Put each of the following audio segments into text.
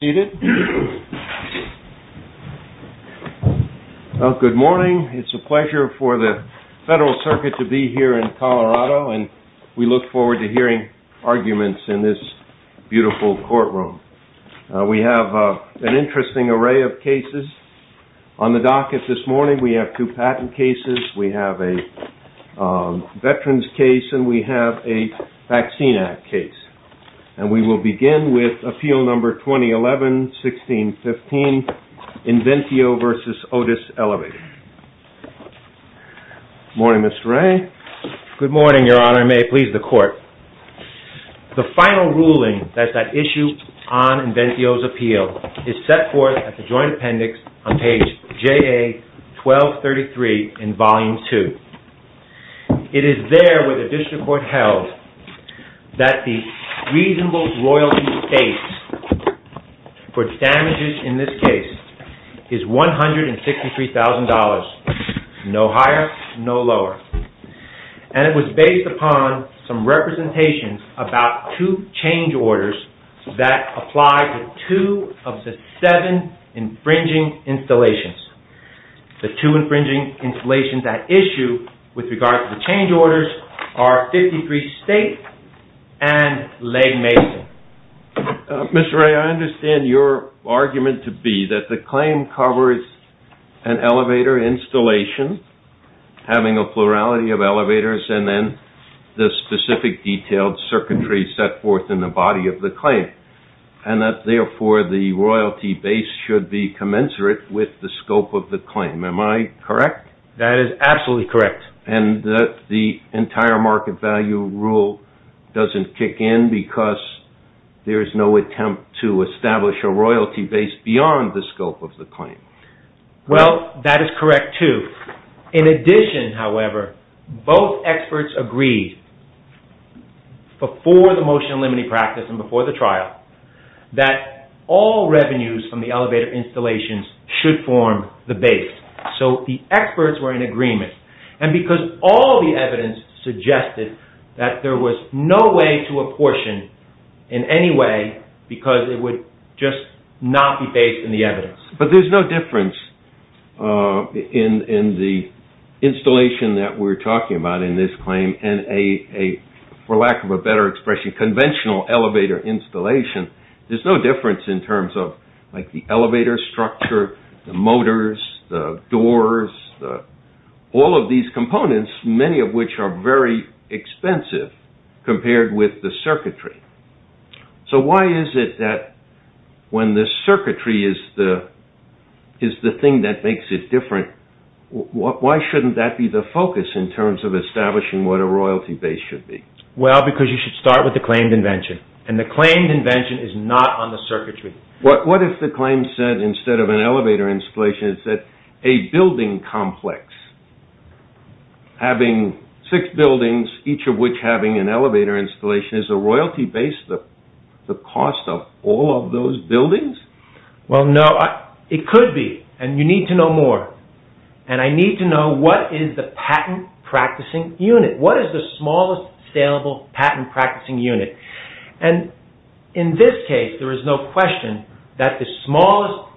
Good morning. It's a pleasure for the Federal Circuit to be here in Colorado and we look forward to hearing arguments in this beautiful courtroom. We have an interesting array of cases on the docket this morning. We have two patent cases, we have a Veterans case, and we have a Vaccine Act case. And we will begin with Appeal No. 2011-1615 INVENTIO v. OTIS ELEVATOR. Good morning, Mr. Ray. Good morning, Your Honor. And may it please the Court. The final ruling that's at issue on Inventio's appeal is set forth at the Joint Appendix on page JA-1233 in Volume 2. It is there where the District Court held that the reasonable royalty state for damages in this case is $163,000. No higher, no lower. And it was based upon some representations about two change orders that apply to two of the seven infringing installations. The two infringing installations at issue with regard to the change orders are 53 State and Lake Mason. Mr. Ray, I understand your argument to be that the claim covers an elevator installation having a plurality of elevators and then the specific detailed circuitry set forth in the body of the claim. And that, therefore, the royalty base should be commensurate with the scope of the claim. Am I correct? That is absolutely correct. And that the entire market value rule doesn't kick in because there is no attempt to establish a royalty base beyond the scope of the claim? Well, that is correct, too. In addition, however, both experts agreed before the motion limiting practice and before the trial that all revenues from the elevator installations should form the base. So the experts were in agreement. And because all the evidence suggested that there was no way to apportion in any way because it would just not be based on the evidence. But there is no difference in the installation that we are talking about in this claim and, for lack of a better expression, conventional elevator installation. There is no difference in terms of the elevator structure, the motors, the doors, all of these components, many of which are very expensive compared with the circuitry. So why is it that when the circuitry is the thing that makes it different, why shouldn't that be the focus in terms of establishing what a royalty base should be? Well, because you should start with the claimed invention. And the claimed invention is not on the circuitry. What if the claim said instead of an elevator installation, it said a building complex? Having six buildings, each of which having an elevator installation, is a royalty base the cost of all of those buildings? Well, no. It could be. And you need to know more. And I need to know what is the patent practicing unit. What is the smallest scalable patent practicing unit? And in this case, there is no question that the smallest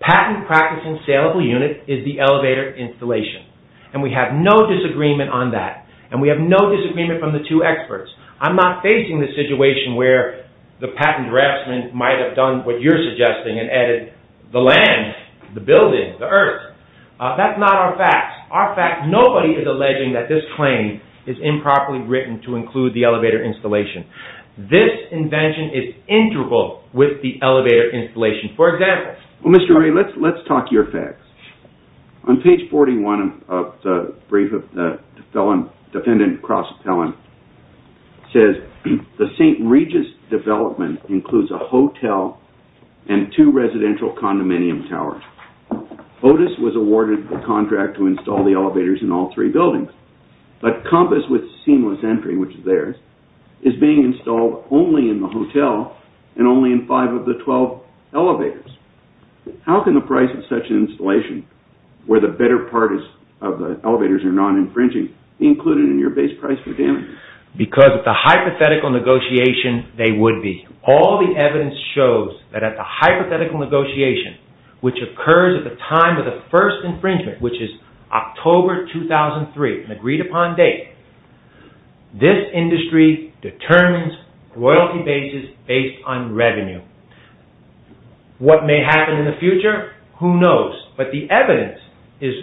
patent practicing scalable unit is the elevator installation. And we have no disagreement on that. And we have no disagreement from the two experts. I'm not facing the situation where the patent draftsman might have done what you're suggesting and added the land, the building, the earth. That's not our facts. Our facts, nobody is alleging that this claim is improperly written to include the elevator installation. This invention is integral with the elevator installation. For example… Well, Mr. Ray, let's talk your facts. On page 41 of the brief of the defendant, Cross Appellant, says the St. Regis development includes a hotel and two residential condominium towers. Otis was awarded the contract to install the elevators in all three buildings. But Compass with seamless entry, which is theirs, is being installed only in the hotel and only in five of the twelve elevators. How can the price of such an installation, where the better part of the elevators are non-infringing, be included in your base price for damage? Because at the hypothetical negotiation, they would be. All the evidence shows that at the hypothetical negotiation, which occurs at the time of the first infringement, which is October 2003, agreed upon date, this industry determines royalty bases based on revenue. What may happen in the future, who knows? But the evidence is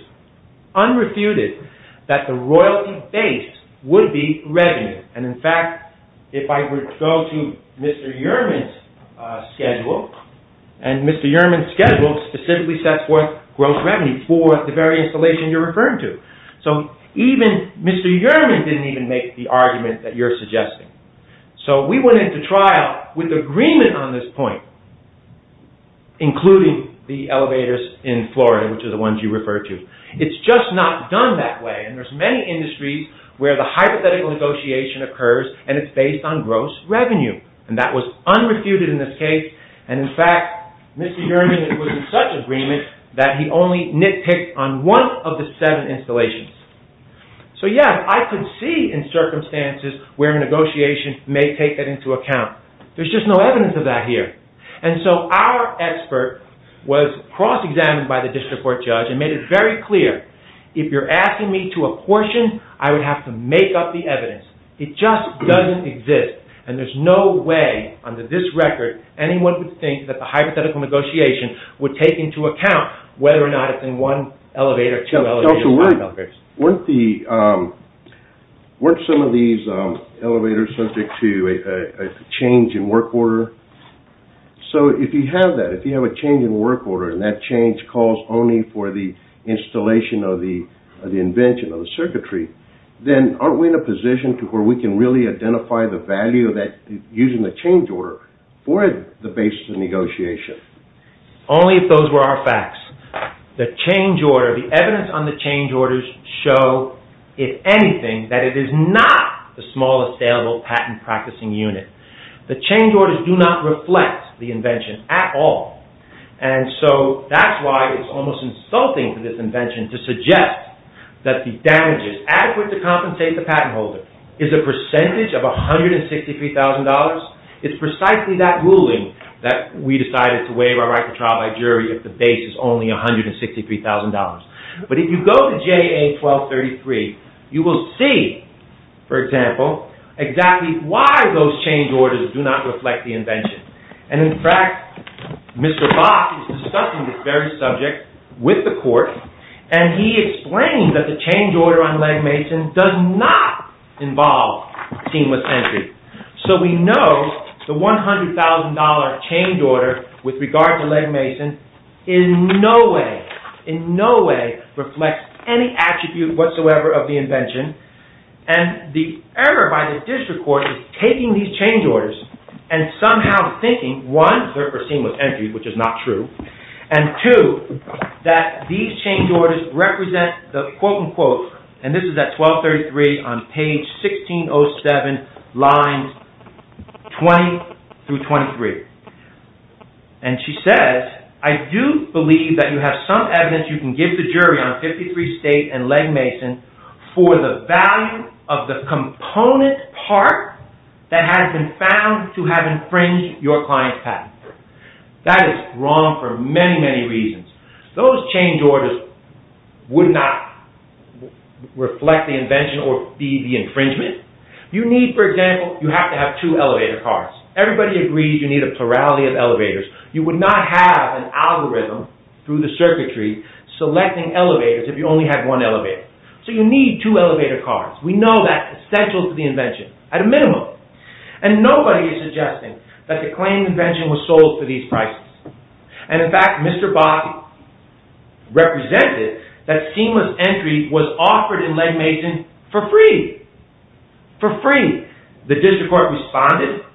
unrefuted that the royalty base would be revenue. And in fact, if I were to go to Mr. Uhrman's schedule, and Mr. Uhrman's schedule specifically sets forth gross revenue for the very installation you're referring to. So even Mr. Uhrman didn't even make the argument that you're suggesting. So we went into trial with agreement on this point, including the elevators in Florida, which are the ones you refer to. It's just not done that way. And there's many industries where the hypothetical negotiation occurs and it's based on gross revenue. And that was unrefuted in this case. And in fact, Mr. Uhrman was in such agreement that he only nitpicked on one of the seven installations. So yeah, I could see in circumstances where a negotiation may take that into account. There's just no evidence of that here. And so our expert was cross-examined by the district court judge and made it very clear. If you're asking me to apportion, I would have to make up the evidence. It just doesn't exist. And there's no way under this record anyone would think that the hypothetical negotiation would take into account whether or not it's in one elevator, two elevators, five elevators. Weren't some of these elevators subject to a change in work order? So if you have that, if you have a change in work order and that change calls only for the installation of the invention of the circuitry, then aren't we in a position to where we can really identify the value of using the change order for the basis of negotiation? Only if those were our facts. The change order, the evidence on the change orders show, if anything, that it is not the smallest saleable patent practicing unit. The change orders do not reflect the invention at all. And so that's why it's almost insulting to this invention to suggest that the damages adequate to compensate the patent holder is a percentage of $163,000. It's precisely that ruling that we decided to waive our right to trial by jury if the base is only $163,000. But if you go to JA 1233, you will see, for example, exactly why those change orders do not reflect the invention. And in fact, Mr. Bach is discussing this very subject with the court, and he explained that the change order on leg mason does not involve seamless entry. So we know the $100,000 change order with regard to leg mason in no way, in no way, reflects any attribute whatsoever of the invention. And the error by the district court is taking these change orders and somehow thinking, one, they're for seamless entry, which is not true, and two, that these change orders represent the quote, unquote, and this is at 1233 on page 1607, lines 20 through 23. And she says, I do believe that you have some evidence you can give the jury on 53 state and leg mason for the value of the component part that has been found to have infringed your client's patent. That is wrong for many, many reasons. Those change orders would not reflect the invention or be the infringement. You need, for example, you have to have two elevator cars. Everybody agrees you need a plurality of elevators. You would not have an algorithm through the circuitry selecting elevators if you only had one elevator. So you need two elevator cars. We know that's essential to the invention, at a minimum. And nobody is suggesting that the claim invention was sold for these prices. And in fact, Mr. Boffi represented that seamless entry was offered in leg mason for free. For free. The district court responded.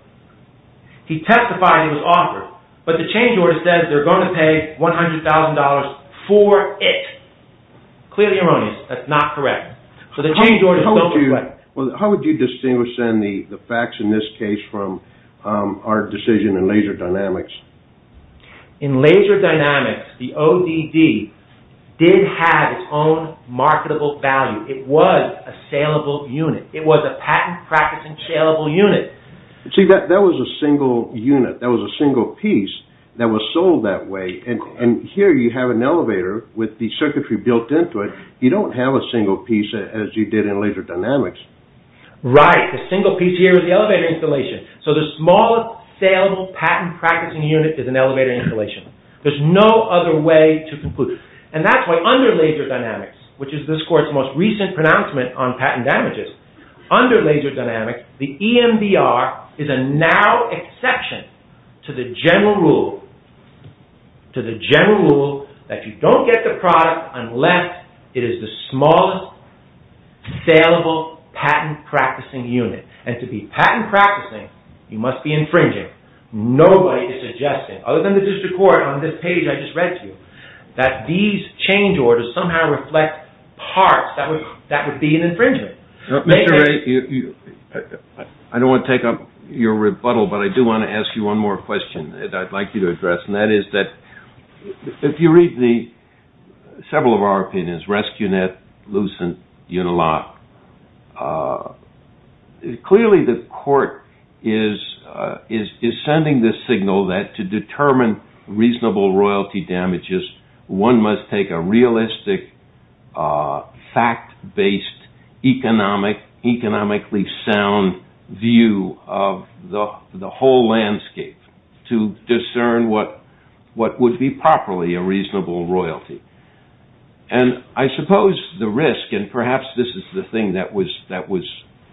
He testified it was offered. But the change order says they're going to pay $100,000 for it. Clearly erroneous. That's not correct. How would you distinguish, then, the facts in this case from our decision in Laser Dynamics? In Laser Dynamics, the ODD did have its own marketable value. It was a saleable unit. It was a patent-practicing saleable unit. See, that was a single unit. That was a single piece that was sold that way. And here you have an elevator with the circuitry built into it. You don't have a single piece as you did in Laser Dynamics. Right. The single piece here is the elevator installation. So the smallest saleable patent-practicing unit is an elevator installation. There's no other way to conclude. And that's why under Laser Dynamics, which is this court's most recent pronouncement on patent damages, under Laser Dynamics, the EMDR is a narrow exception to the general rule that you don't get the product unless it is the smallest saleable patent-practicing unit. And to be patent-practicing, you must be infringing. Nobody is suggesting, other than the district court on this page I just read to you, that these change orders somehow reflect parts that would be an infringement. Mr. Ray, I don't want to take up your rebuttal, but I do want to ask you one more question that I'd like you to address. And that is that if you read several of our opinions, Rescunet, Lucent, Unilock, clearly the court is sending the signal that to determine reasonable royalty damages, one must take a realistic, fact-based, economically sound view of the whole landscape to discern what would be properly a reasonable royalty. And I suppose the risk, and perhaps this is the thing that was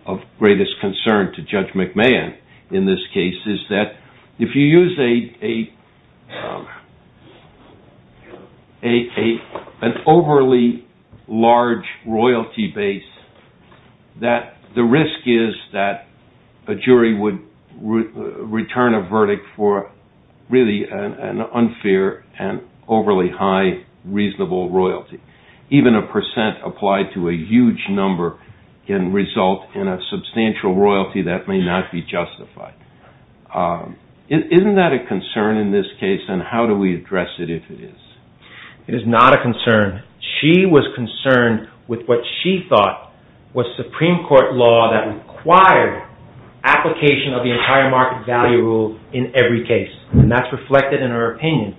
of greatest concern to Judge McMahon in this case, is that if you use an overly large royalty base, that the risk is that a jury would return a verdict for really an unfair and overly high reasonable royalty. Even a percent applied to a huge number can result in a substantial royalty that may not be justified. Isn't that a concern in this case, and how do we address it if it is? It is not a concern. She was concerned with what she thought was Supreme Court law that required application of the entire market value rule in every case, and that's reflected in her opinion.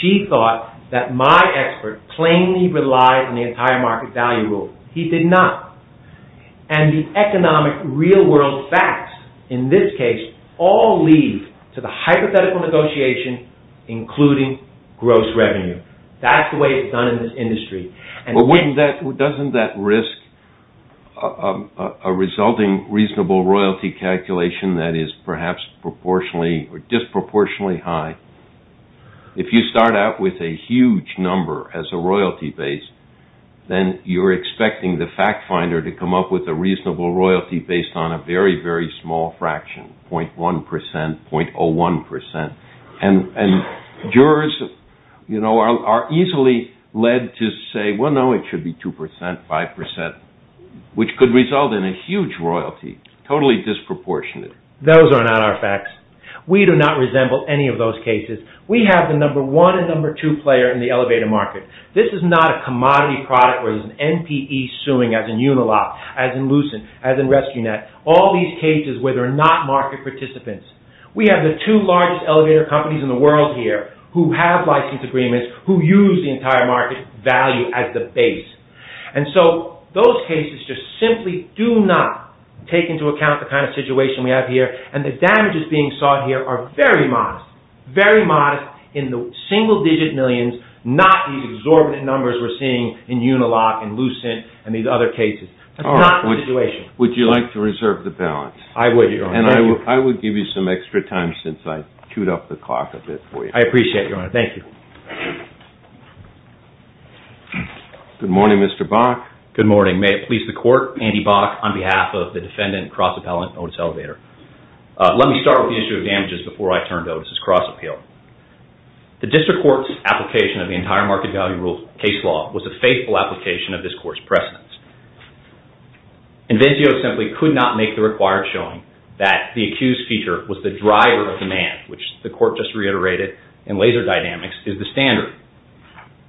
She thought that my expert plainly relied on the entire market value rule. He did not. And the economic real world facts in this case all lead to the hypothetical negotiation including gross revenue. That's the way it's done in this industry. Doesn't that risk a resulting reasonable royalty calculation that is perhaps disproportionately high? If you start out with a huge number as a royalty base, then you're expecting the fact finder to come up with a reasonable royalty based on a very, very small fraction, 0.1%, 0.01%. And jurors are easily led to say, well, no, it should be 2%, 5%, which could result in a huge royalty, totally disproportionate. Those are not our facts. We do not resemble any of those cases. We have the number one and number two player in the elevator market. This is not a commodity product where there's an NPE suing as in Unilock, as in Lucent, as in Rescue Net. All these cases where there are not market participants. We have the two largest elevator companies in the world here who have license agreements, who use the entire market value as the base. And so those cases just simply do not take into account the kind of situation we have here, and the damages being sought here are very modest, very modest in the single digit millions, not the exorbitant numbers we're seeing in Unilock and Lucent and these other cases. That's not the situation. Would you like to reserve the balance? I would, Your Honor. And I would give you some extra time since I queued up the clock a bit for you. I appreciate it, Your Honor. Thank you. Good morning, Mr. Bach. Good morning. May it please the Court, Andy Bach on behalf of the defendant, Cross Appellant Otis Elevator. Let me start with the issue of damages before I turn to Otis's cross appeal. The district court's application of the entire market value rule case law was a faithful application of this court's precedence. Invenzio simply could not make the required showing that the accused feature was the driver of demand, which the court just reiterated in laser dynamics is the standard.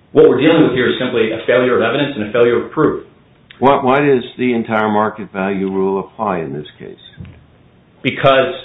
What we're dealing with here is simply a failure of evidence and a failure of proof. Why does the entire market value rule apply in this case? Because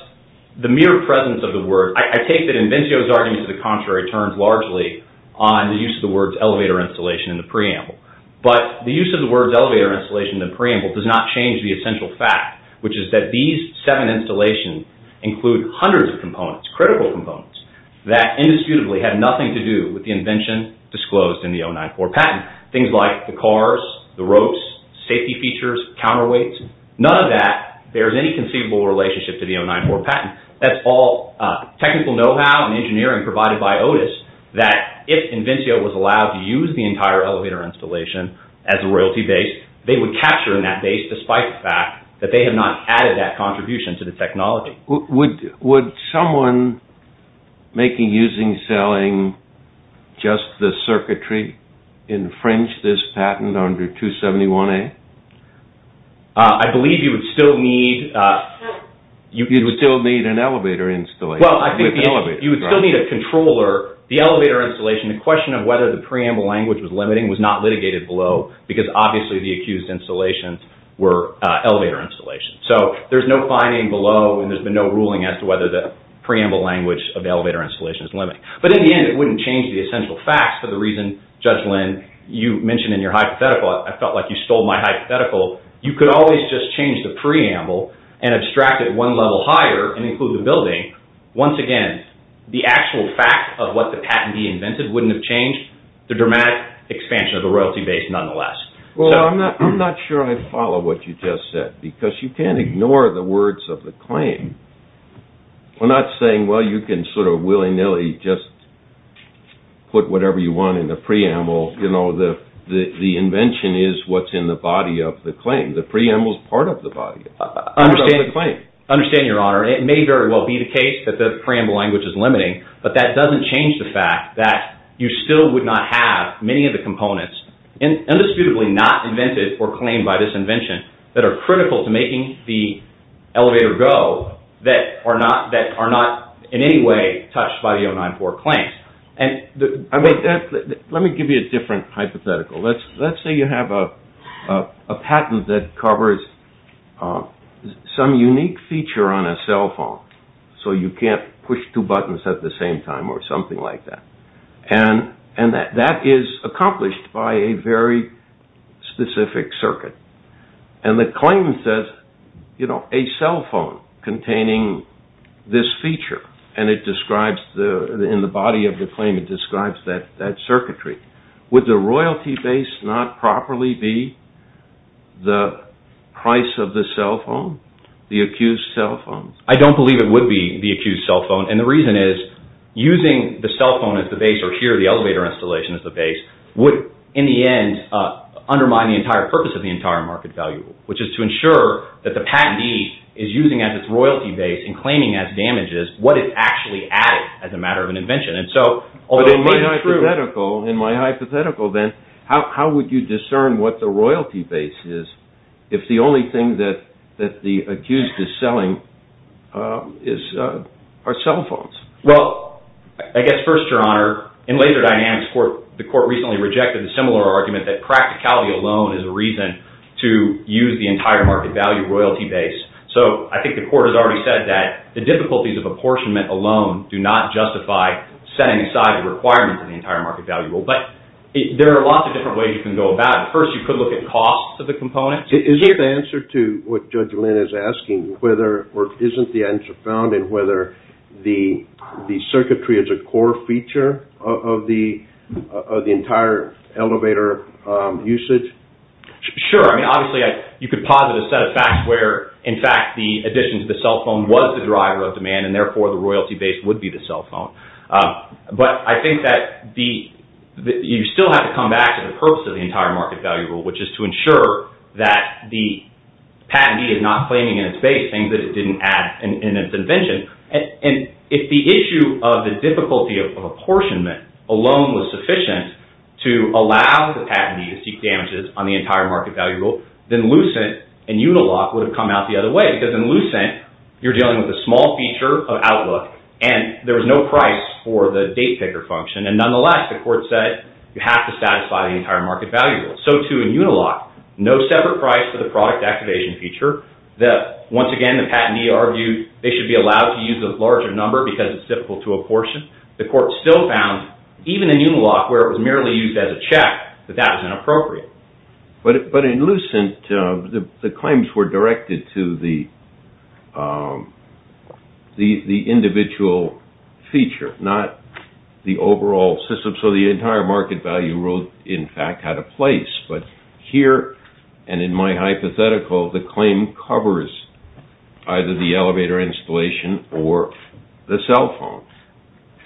the mere presence of the word, I take that Invenzio's argument to the contrary, turns largely on the use of the words elevator installation in the preamble. But the use of the words elevator installation in the preamble does not change the essential fact, which is that these seven installations include hundreds of components, critical components, that indisputably had nothing to do with the invention disclosed in the 094 patent. Things like the cars, the ropes, safety features, counterweights, none of that bears any conceivable relationship to the 094 patent. That's all technical know-how and engineering provided by Otis, that if Invenzio was allowed to use the entire elevator installation as a royalty base, they would capture in that base despite the fact that they had not added that contribution to the technology. Would someone making, using, selling just the circuitry infringe this patent under 271A? I believe you would still need... You would still need an elevator installation. You would still need a controller. The elevator installation, the question of whether the preamble language was limiting was not litigated below because obviously the accused installations were elevator installations. So there's no finding below and there's been no ruling as to whether the preamble language of the elevator installation is limiting. But in the end, it wouldn't change the essential facts for the reason, Judge Lynn, you mentioned in your hypothetical, I felt like you stole my hypothetical. You could always just change the preamble and abstract it one level higher and include the building. Once again, the actual fact of what the patentee invented wouldn't have changed the dramatic expansion of the royalty base nonetheless. Well, I'm not sure I follow what you just said because you can't ignore the words of the claim. I'm not saying, well, you can sort of willy-nilly just put whatever you want in the preamble. You know, the invention is what's in the body of the claim. The preamble is part of the body of the claim. I understand, Your Honor. It may very well be the case that the preamble language is limiting, but that doesn't change the fact that you still would not have many of the components. Indisputably not invented or claimed by this invention that are critical to making the elevator go that are not in any way touched by the 094 claims. Let me give you a different hypothetical. Let's say you have a patent that covers some unique feature on a cell phone. So you can't push two buttons at the same time or something like that. And that is accomplished by a very specific circuit. And the claim says, you know, a cell phone containing this feature, and in the body of the claim it describes that circuitry. Would the royalty base not properly be the price of the cell phone, the accused cell phone? I don't believe it would be the accused cell phone. And the reason is using the cell phone as the base, or here the elevator installation as the base, would in the end undermine the entire purpose of the entire market value, which is to ensure that the patentee is using as its royalty base and claiming as damages what it actually added as a matter of an invention. And so although it may be true. But in my hypothetical, then, how would you discern what the royalty base is if the only thing that the accused is selling are cell phones? Well, I guess first, Your Honor, in Laser Dynamics, the court recently rejected a similar argument that practicality alone is a reason to use the entire market value royalty base. So I think the court has already said that the difficulties of apportionment alone do not justify setting aside the requirements of the entire market value. But there are lots of different ways you can go about it. First, you could look at costs of the components. Is the answer to what Judge Lynn is asking, or isn't the answer found, in whether the circuitry is a core feature of the entire elevator usage? Sure. I mean, obviously, you could posit a set of facts where, in fact, the addition to the cell phone was the driver of demand, and therefore the royalty base would be the cell phone. But I think that you still have to come back to the purpose of the entire market value rule, which is to ensure that the patentee is not claiming in its base things that it didn't add in its invention. And if the issue of the difficulty of apportionment alone was sufficient to allow the patentee to seek damages on the entire market value rule, then Lucent and Unilock would have come out the other way. Because in Lucent, you're dealing with a small feature of Outlook, and there was no price for the date picker function. And nonetheless, the court said you have to satisfy the entire market value rule. So, too, in Unilock, no separate price for the product activation feature. Once again, the patentee argued they should be allowed to use a larger number because it's difficult to apportion. The court still found, even in Unilock, where it was merely used as a check, that that was inappropriate. But in Lucent, the claims were directed to the individual feature, not the overall system. So the entire market value rule, in fact, had a place. But here, and in my hypothetical, the claim covers either the elevator installation or the cell phone.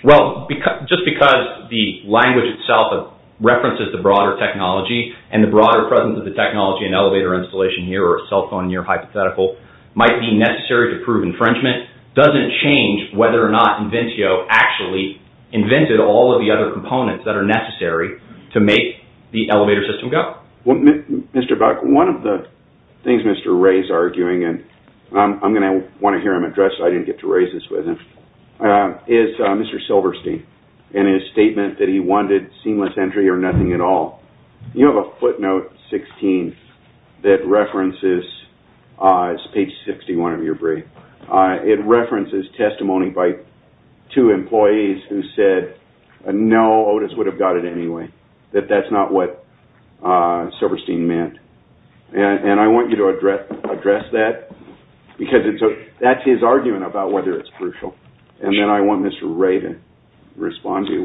Well, just because the language itself references the broader technology and the broader presence of the technology in elevator installation here, or a cell phone in your hypothetical, might be necessary to prove infringement, doesn't change whether or not Inventio actually invented all of the other components that are necessary to make the elevator system go. Mr. Buck, one of the things Mr. Ray is arguing, and I'm going to want to hear him address, I didn't get to raise this with him, is Mr. Silverstein and his statement that he wanted seamless entry or nothing at all. You have a footnote, 16, that references, it's page 61 of your brief, it references testimony by two employees who said, no, Otis would have got it anyway, that that's not what Silverstein meant. And I want you to address that, because that's his argument about whether it's crucial. And then I want Mr. Ray to respond to you.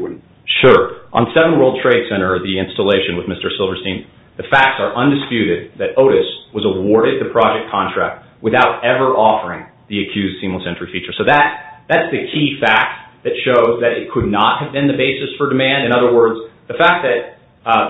Sure. On 7 World Trade Center, the installation with Mr. Silverstein, the facts are undisputed that Otis was awarded the project contract without ever offering the accused seamless entry feature. So that's the key fact that shows that it could not have been the basis for demand. In other words, the fact that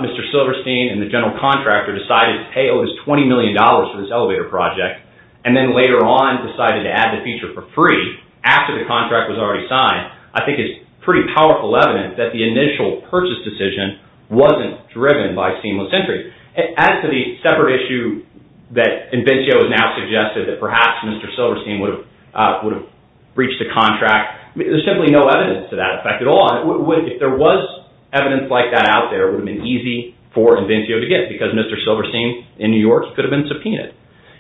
Mr. Silverstein and the general contractor decided, hey, Otis, $20 million for this elevator project, and then later on decided to add the feature for free, after the contract was already signed, I think is pretty powerful evidence that the initial purchase decision wasn't driven by seamless entry. Add to the separate issue that Invencio has now suggested that perhaps Mr. Silverstein would have breached the contract. There's simply no evidence to that effect at all. If there was evidence like that out there, it would have been easy for Invencio to get, because Mr. Silverstein in New York could have been subpoenaed.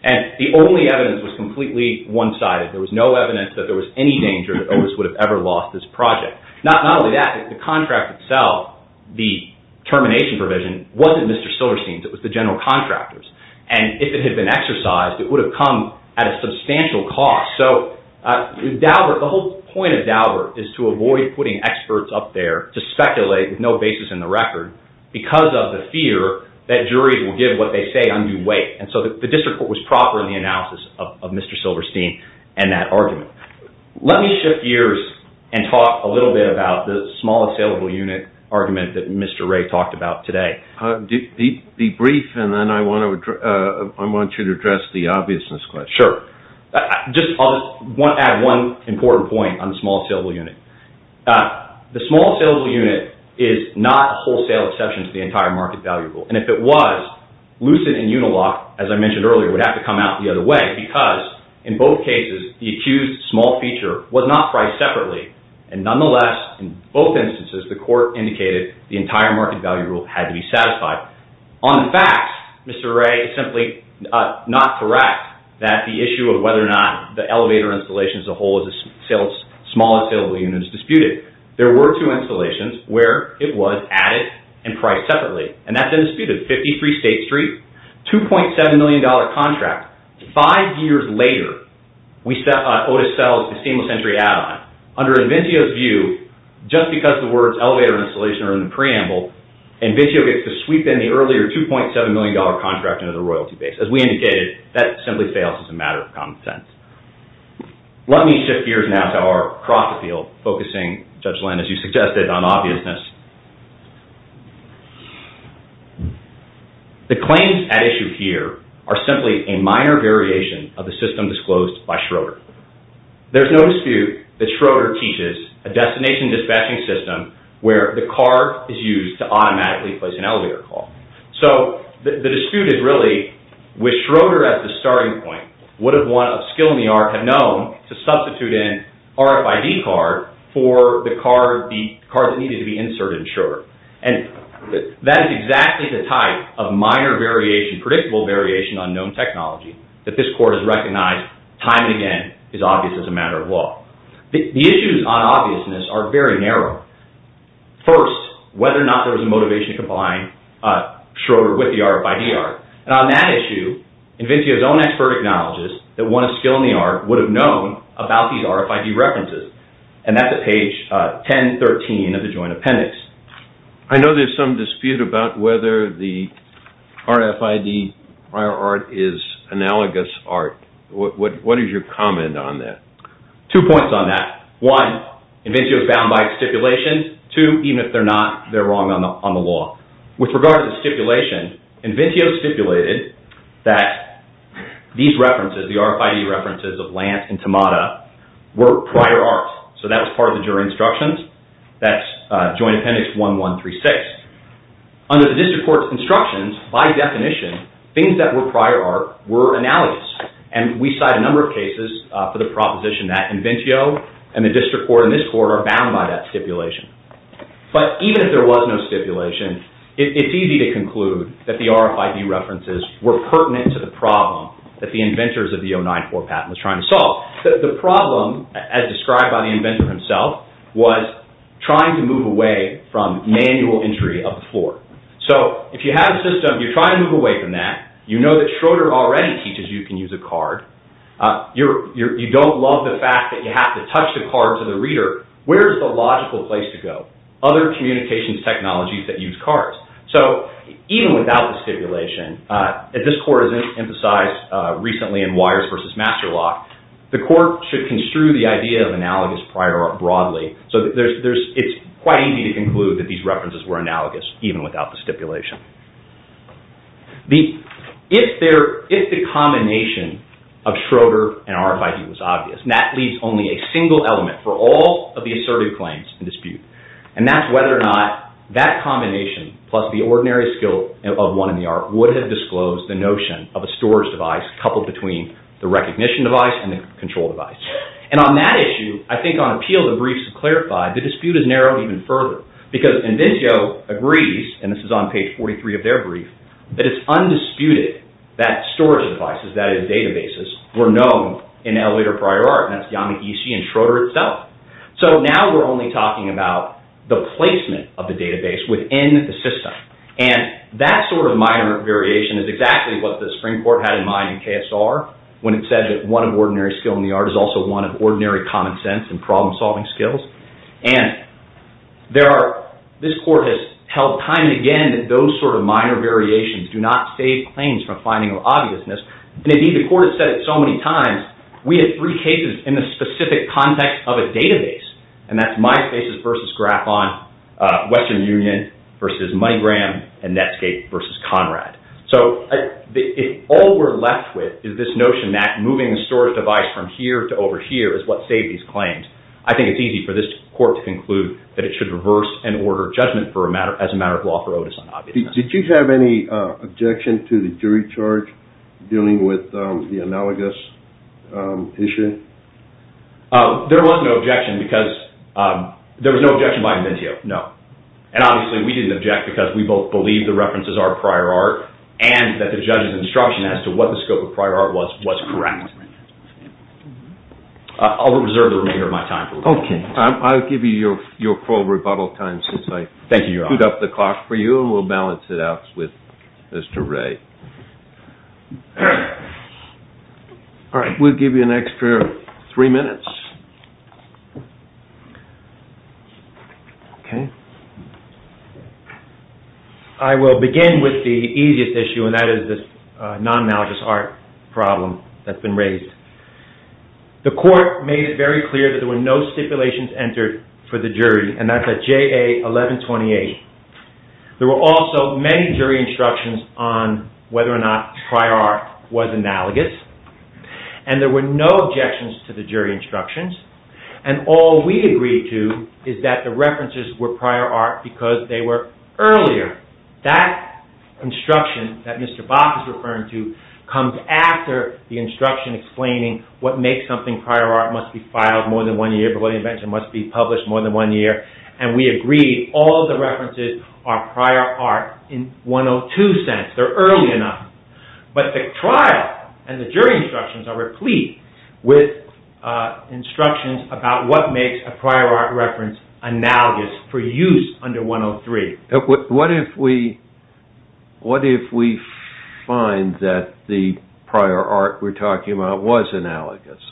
And the only evidence was completely one-sided. There was no evidence that there was any danger that Otis would have ever lost this project. Not only that, the contract itself, the termination provision, wasn't Mr. Silverstein's, it was the general contractor's. And if it had been exercised, it would have come at a substantial cost. The whole point of Daubert is to avoid putting experts up there to speculate with no basis in the record, because of the fear that juries will give what they say undue weight. And so the district court was proper in the analysis of Mr. Silverstein and that argument. Let me shift gears and talk a little bit about the small, saleable unit argument that Mr. Ray talked about today. Be brief, and then I want you to address the obviousness question. Sure. I'll just add one important point on the small, saleable unit. The small, saleable unit is not a wholesale exception to the entire market value rule. And if it was, Lucid and Unilock, as I mentioned earlier, would have to come out the other way, because in both cases, the accused small feature was not priced separately. And nonetheless, in both instances, the court indicated the entire market value rule had to be satisfied. On the facts, Mr. Ray is simply not correct, that the issue of whether or not the elevator installation as a whole is a small, saleable unit is disputed. There were two installations where it was added and priced separately, and that's been disputed, 53 State Street, $2.7 million contract. Five years later, Otis sells the seamless entry ad on it. Under Inventio's view, just because the words elevator installation are in the preamble, Inventio gets to sweep in the earlier $2.7 million contract under the royalty base. As we indicated, that simply fails as a matter of common sense. Let me shift gears now to our cross-appeal, focusing, Judge Lynn, as you suggested, on obviousness. The claims at issue here are simply a minor variation of the system disclosed by Schroeder. There's no dispute that Schroeder teaches a destination dispatching system where the card is used to automatically place an elevator call. The dispute is really, would Schroeder, at the starting point, would a skill in the art have known to substitute in RFID card for the card that needed to be inserted in Schroeder? That is exactly the type of minor variation, predictable variation, on known technology that this Court has recognized, time and again, is obvious as a matter of law. The issues on obviousness are very narrow. First, whether or not there was a motivation to combine Schroeder with the RFID art. On that issue, Inventio's own expert acknowledges that one of skill in the art would have known about these RFID references. That's at page 1013 of the joint appendix. I know there's some dispute about whether the RFID art is analogous art. What is your comment on that? Two points on that. One, Inventio is bound by its stipulation. Two, even if they're not, they're wrong on the law. With regard to the stipulation, Inventio stipulated that these references, the RFID references of Lance and Tamada, were prior art. So that was part of the jury instructions. That's joint appendix 1136. Under the district court's instructions, by definition, things that were prior art were analogous. We cite a number of cases for the proposition that Inventio and the district court and this court are bound by that stipulation. But even if there was no stipulation, it's easy to conclude that the RFID references were pertinent to the problem that the inventors of the 094 patent was trying to solve. The problem, as described by the inventor himself, was trying to move away from manual entry of the floor. If you have a system, you're trying to move away from that. You know that Schroeder already teaches you can use a card. You don't love the fact that you have to touch the card to the reader. Where is the logical place to go? Other communications technologies that use cards. So even without the stipulation, as this court has emphasized recently in Wires versus Master Lock, the court should construe the idea of analogous prior art broadly. So it's quite easy to conclude that these references were analogous even without the stipulation. If the combination of Schroeder and RFID was obvious, and that leaves only a single element for all of the assertive claims in dispute, and that's whether or not that combination plus the ordinary skill of one in the art would have disclosed the notion of a storage device coupled between the recognition device and the control device. And on that issue, I think on appeal the briefs have clarified, the dispute is narrowed even further because Invencio agrees, and this is on page 43 of their brief, that it's undisputed that storage devices, that is databases, were known in elevator prior art, and that's YAMI-EC and Schroeder itself. So now we're only talking about the placement of the database within the system. And that sort of minor variation is exactly what the Supreme Court had in mind in KSR when it said that one of ordinary skill in the art is also one of ordinary common sense and problem-solving skills. And this court has held time and again that those sort of minor variations do not save claims from finding obviousness, and indeed the court has said it so many times, we had three cases in the specific context of a database, and that's MySpaces versus Graphon, Western Union versus MoneyGram, and Netscape versus Conrad. So all we're left with is this notion that moving the storage device from here to over here is what saved these claims. I think it's easy for this court to conclude that it should reverse and order judgment as a matter of law for Otis on obviousness. Did you have any objection to the jury charge dealing with the analogous issue? There was no objection because there was no objection by Inventio, no. And obviously we didn't object because we both believe the references are prior art and that the judge's instruction as to what the scope of prior art was was correct. I'll reserve the remainder of my time. Okay. I'll give you your full rebuttal time since I screwed up the clock for you and we'll balance it out with Mr. Ray. All right. We'll give you an extra three minutes. Okay. I will begin with the easiest issue and that is this non-analogous art problem that's been raised. The court made it very clear that there were no stipulations entered for the jury and that's at JA 1128. There were also many jury instructions on whether or not prior art was analogous and there were no objections to the jury instructions. And all we agreed to is that the references were prior art because they were earlier. That instruction that Mr. Bach is referring to comes after the instruction explaining what makes something prior art must be filed more than one year, the William Invention must be published more than one year, and we agreed all the references are prior art in 102 sense. They're early enough. But the trial and the jury instructions are replete with instructions about what makes a prior art reference analogous for use under 103. What if we find that the prior art we're talking about was analogous?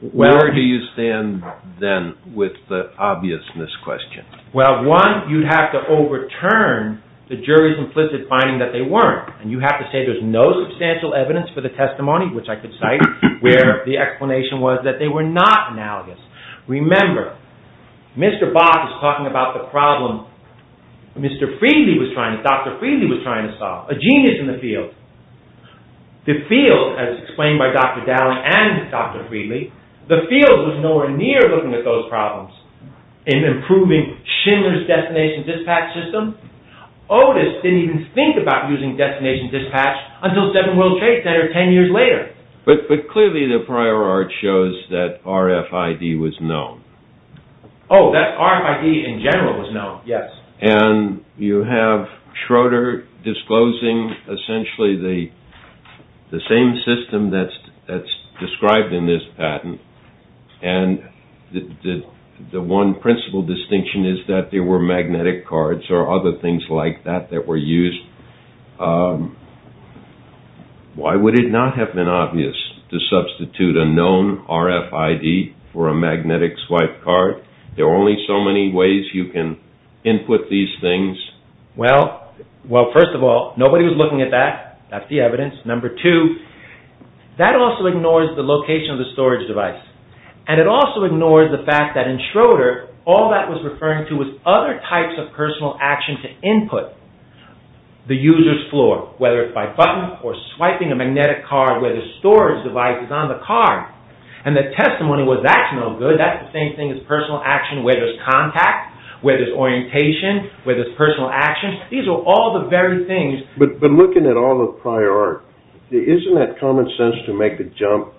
Where do you stand then with the obviousness question? Well, one, you'd have to overturn the jury's implicit finding that they weren't. And you have to say there's no substantial evidence for the testimony, which I could cite, where the explanation was that they were not analogous. Remember, Mr. Bach is talking about the problem Dr. Friedli was trying to solve, a genius in the field. The field, as explained by Dr. Dallin and Dr. Friedli, the field was nowhere near looking at those problems. In improving Schindler's destination dispatch system, Otis didn't even think about using destination dispatch until Seven World Trade Center ten years later. But clearly the prior art shows that RFID was known. Oh, that RFID in general was known, yes. And you have Schroeder disclosing essentially the same system that's described in this patent. And the one principal distinction is that there were magnetic cards or other things like that that were used. Why would it not have been obvious to substitute a known RFID for a magnetic swipe card? There are only so many ways you can input these things. Well, first of all, nobody was looking at that. That's the evidence. Number two, that also ignores the location of the storage device. And it also ignores the fact that in Schroeder, the user's floor, whether it's by button or swiping a magnetic card, where the storage device is on the card. And the testimony was that's no good. That's the same thing as personal action where there's contact, where there's orientation, where there's personal action. These are all the very things. But looking at all the prior art, isn't that common sense to make the jump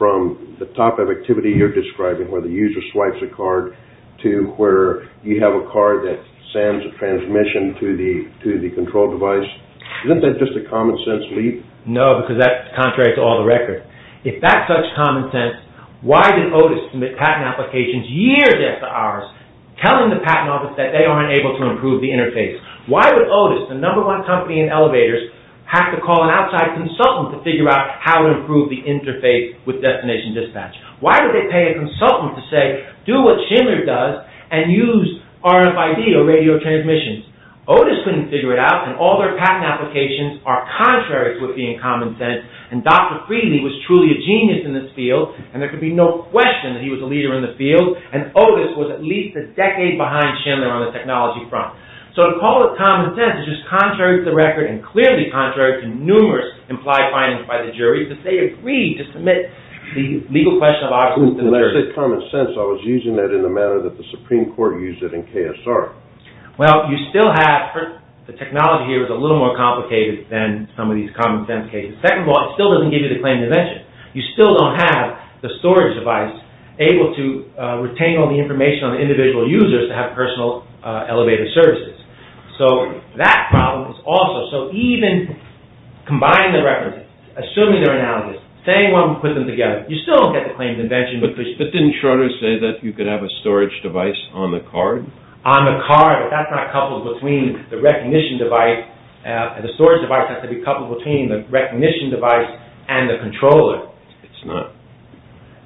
from the type of activity you're describing, where the user swipes a card, to where you have a card that sends a transmission to the control device? Isn't that just a common sense leap? No, because that's contrary to all the records. If that's such common sense, why did Otis submit patent applications years after ours, telling the patent office that they weren't able to improve the interface? Why would Otis, the number one company in elevators, have to call an outside consultant to figure out how to improve the interface with destination dispatch? Why would they pay a consultant to say, do what Schindler does and use RFID or radio transmissions? Otis couldn't figure it out, and all their patent applications are contrary to what would be in common sense. And Dr. Frieden was truly a genius in this field, and there could be no question that he was a leader in the field. And Otis was at least a decade behind Schindler on the technology front. So to call it common sense is just contrary to the record, and clearly contrary to numerous implied findings by the jury, that they agreed to submit the legal question of Otis to the jury. When I say common sense, I was using that in the manner that the Supreme Court used it in KSR. Well, you still have, the technology here is a little more complicated than some of these common sense cases. Second of all, it still doesn't give you the claim to venture. You still don't have the storage device able to retain all the information on the individual users to have personal elevator services. So that problem is also, so even combining the records, assuming they're analogous, saying one would put them together, you still don't get the claim to venture. But didn't Schroeder say that you could have a storage device on the card? On the card, but that's not coupled between the recognition device. The storage device has to be coupled between the recognition device and the controller. It's not.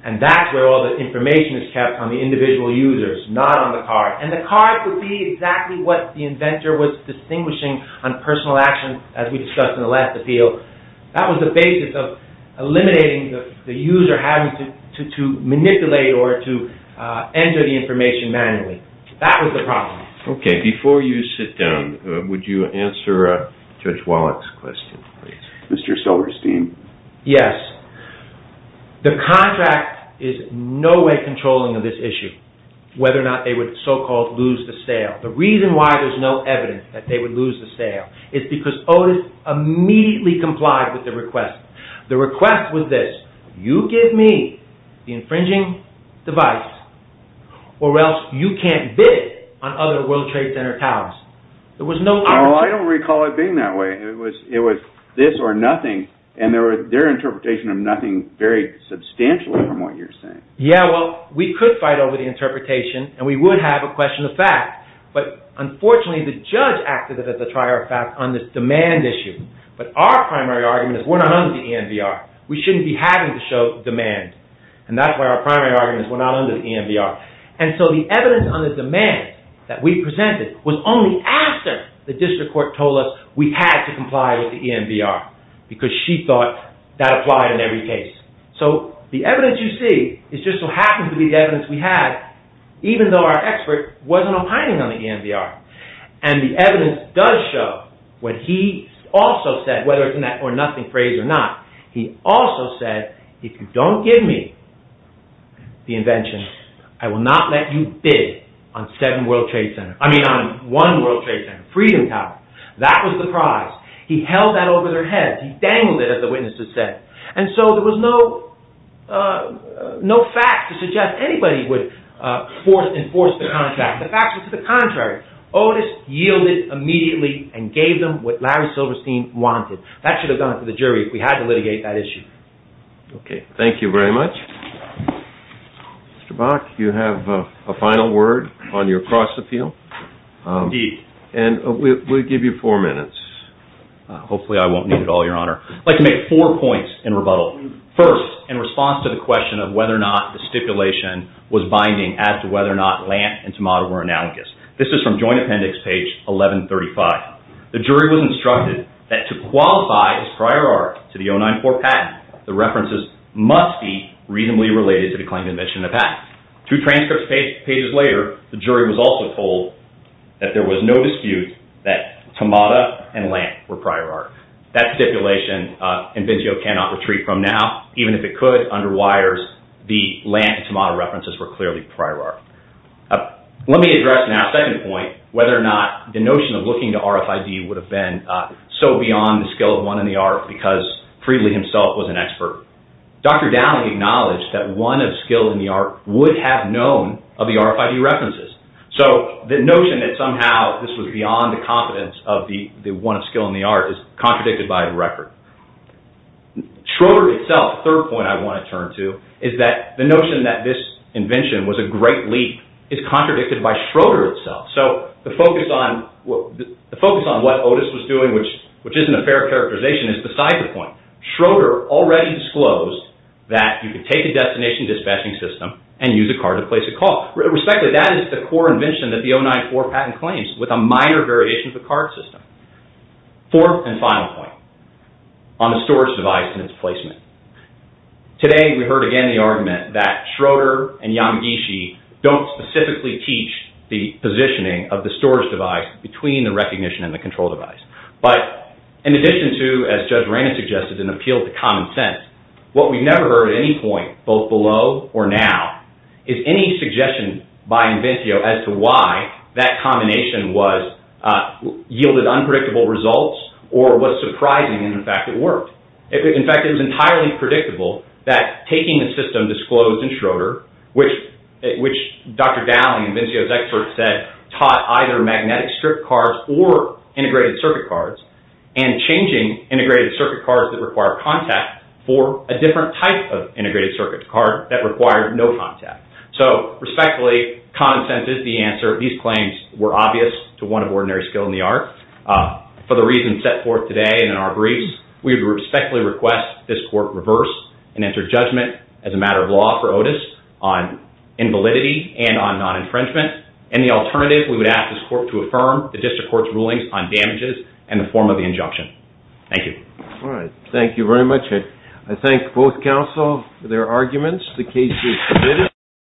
And that's where all the information is kept on the individual users, not on the card. And the card would be exactly what the inventor was distinguishing on personal action as we discussed in the last appeal. That was the basis of eliminating the user having to manipulate or to enter the information manually. That was the problem. Okay. Before you sit down, would you answer Judge Wallach's question, please? Mr. Silverstein. Yes. The contract is in no way controlling of this issue, whether or not they would so-called lose the sale. The reason why there's no evidence that they would lose the sale is because Otis immediately complied with the request. The request was this. You give me the infringing device, or else you can't bid on other World Trade Center towers. I don't recall it being that way. It was this or nothing, and their interpretation of nothing varied substantially from what you're saying. Yeah, well, we could fight over the interpretation, and we would have a question of fact, but unfortunately the judge acted as a trier of fact on this demand issue. But our primary argument is we're not under the EMBR. We shouldn't be having to show demand, and that's why our primary argument is we're not under the EMBR. And so the evidence on the demand that we presented was only after the district court told us we had to comply with the EMBR because she thought that applied in every case. So the evidence you see is just so happens to be the evidence we had, even though our expert wasn't opining on the EMBR. And the evidence does show what he also said, whether it's an or nothing phrase or not. He also said, if you don't give me the invention, I will not let you bid on one World Trade Center, Freedom Tower. That was the prize. He held that over their heads. He dangled it, as the witness had said. And so there was no fact to suggest anybody would enforce the contract. The fact was to the contrary. Otis yielded immediately and gave them what Larry Silverstein wanted. That should have gone to the jury if we had to litigate that issue. Okay. Thank you very much. Mr. Bach, you have a final word on your cross appeal. Indeed. And we'll give you four minutes. Hopefully I won't need it all, Your Honor. I'd like to make four points in rebuttal. First, in response to the question of whether or not the stipulation was binding as to whether or not Lant and Tamada were analogous. This is from Joint Appendix, page 1135. The jury was instructed that to qualify as prior art to the 094 patent, the references must be reasonably related to the claim of invention of the patent. Two transcript pages later, the jury was also told that there was no dispute that Tamada and Lant were prior art. That stipulation inventio cannot retreat from now. Even if it could, under wires, the Lant and Tamada references were clearly prior art. Let me address now a second point, whether or not the notion of looking to RFID would have been so beyond the skill of one in the art because Freedly himself was an expert. Dr. Downing acknowledged that one of skill in the art would have known of the RFID references. So the notion that somehow this was beyond the competence of the one of skill in the art is contradicted by the record. Schroeder itself, the third point I want to turn to, is that the notion that this invention was a great leap is contradicted by Schroeder itself. So the focus on what Otis was doing, which isn't a fair characterization, is beside the point. Schroeder already disclosed that you could take a destination dispatching system and use a card to place a call. Respectively, that is the core invention that the 094 patent claims with a minor variation of the card system. Fourth and final point on the storage device and its placement. Today we heard again the argument that Schroeder and Yamagishi don't specifically teach the positioning of the storage device between the recognition and the control device. But in addition to, as Judge Rand suggested, an appeal to common sense, what we've never heard at any point, both below or now, is any suggestion by Invenzio as to why that combination yielded unpredictable results or was surprising in the fact that it worked. In fact, it was entirely predictable that taking the system disclosed in Schroeder, which Dr. Dowling, Invenzio's expert, said taught either magnetic strip cards or integrated circuit cards, and changing integrated circuit cards that require contact for a different type of integrated circuit card that required no contact. So, respectfully, common sense is the answer. These claims were obvious to one of ordinary skill in the art. For the reasons set forth today and in our briefs, we would respectfully request this court reverse and enter judgment as a matter of law for Otis on invalidity and on non-infringement. In the alternative, we would ask this court to affirm the district court's rulings on damages in the form of the injunction. Thank you. All right. Thank you very much. I thank both counsel for their arguments. The case is submitted.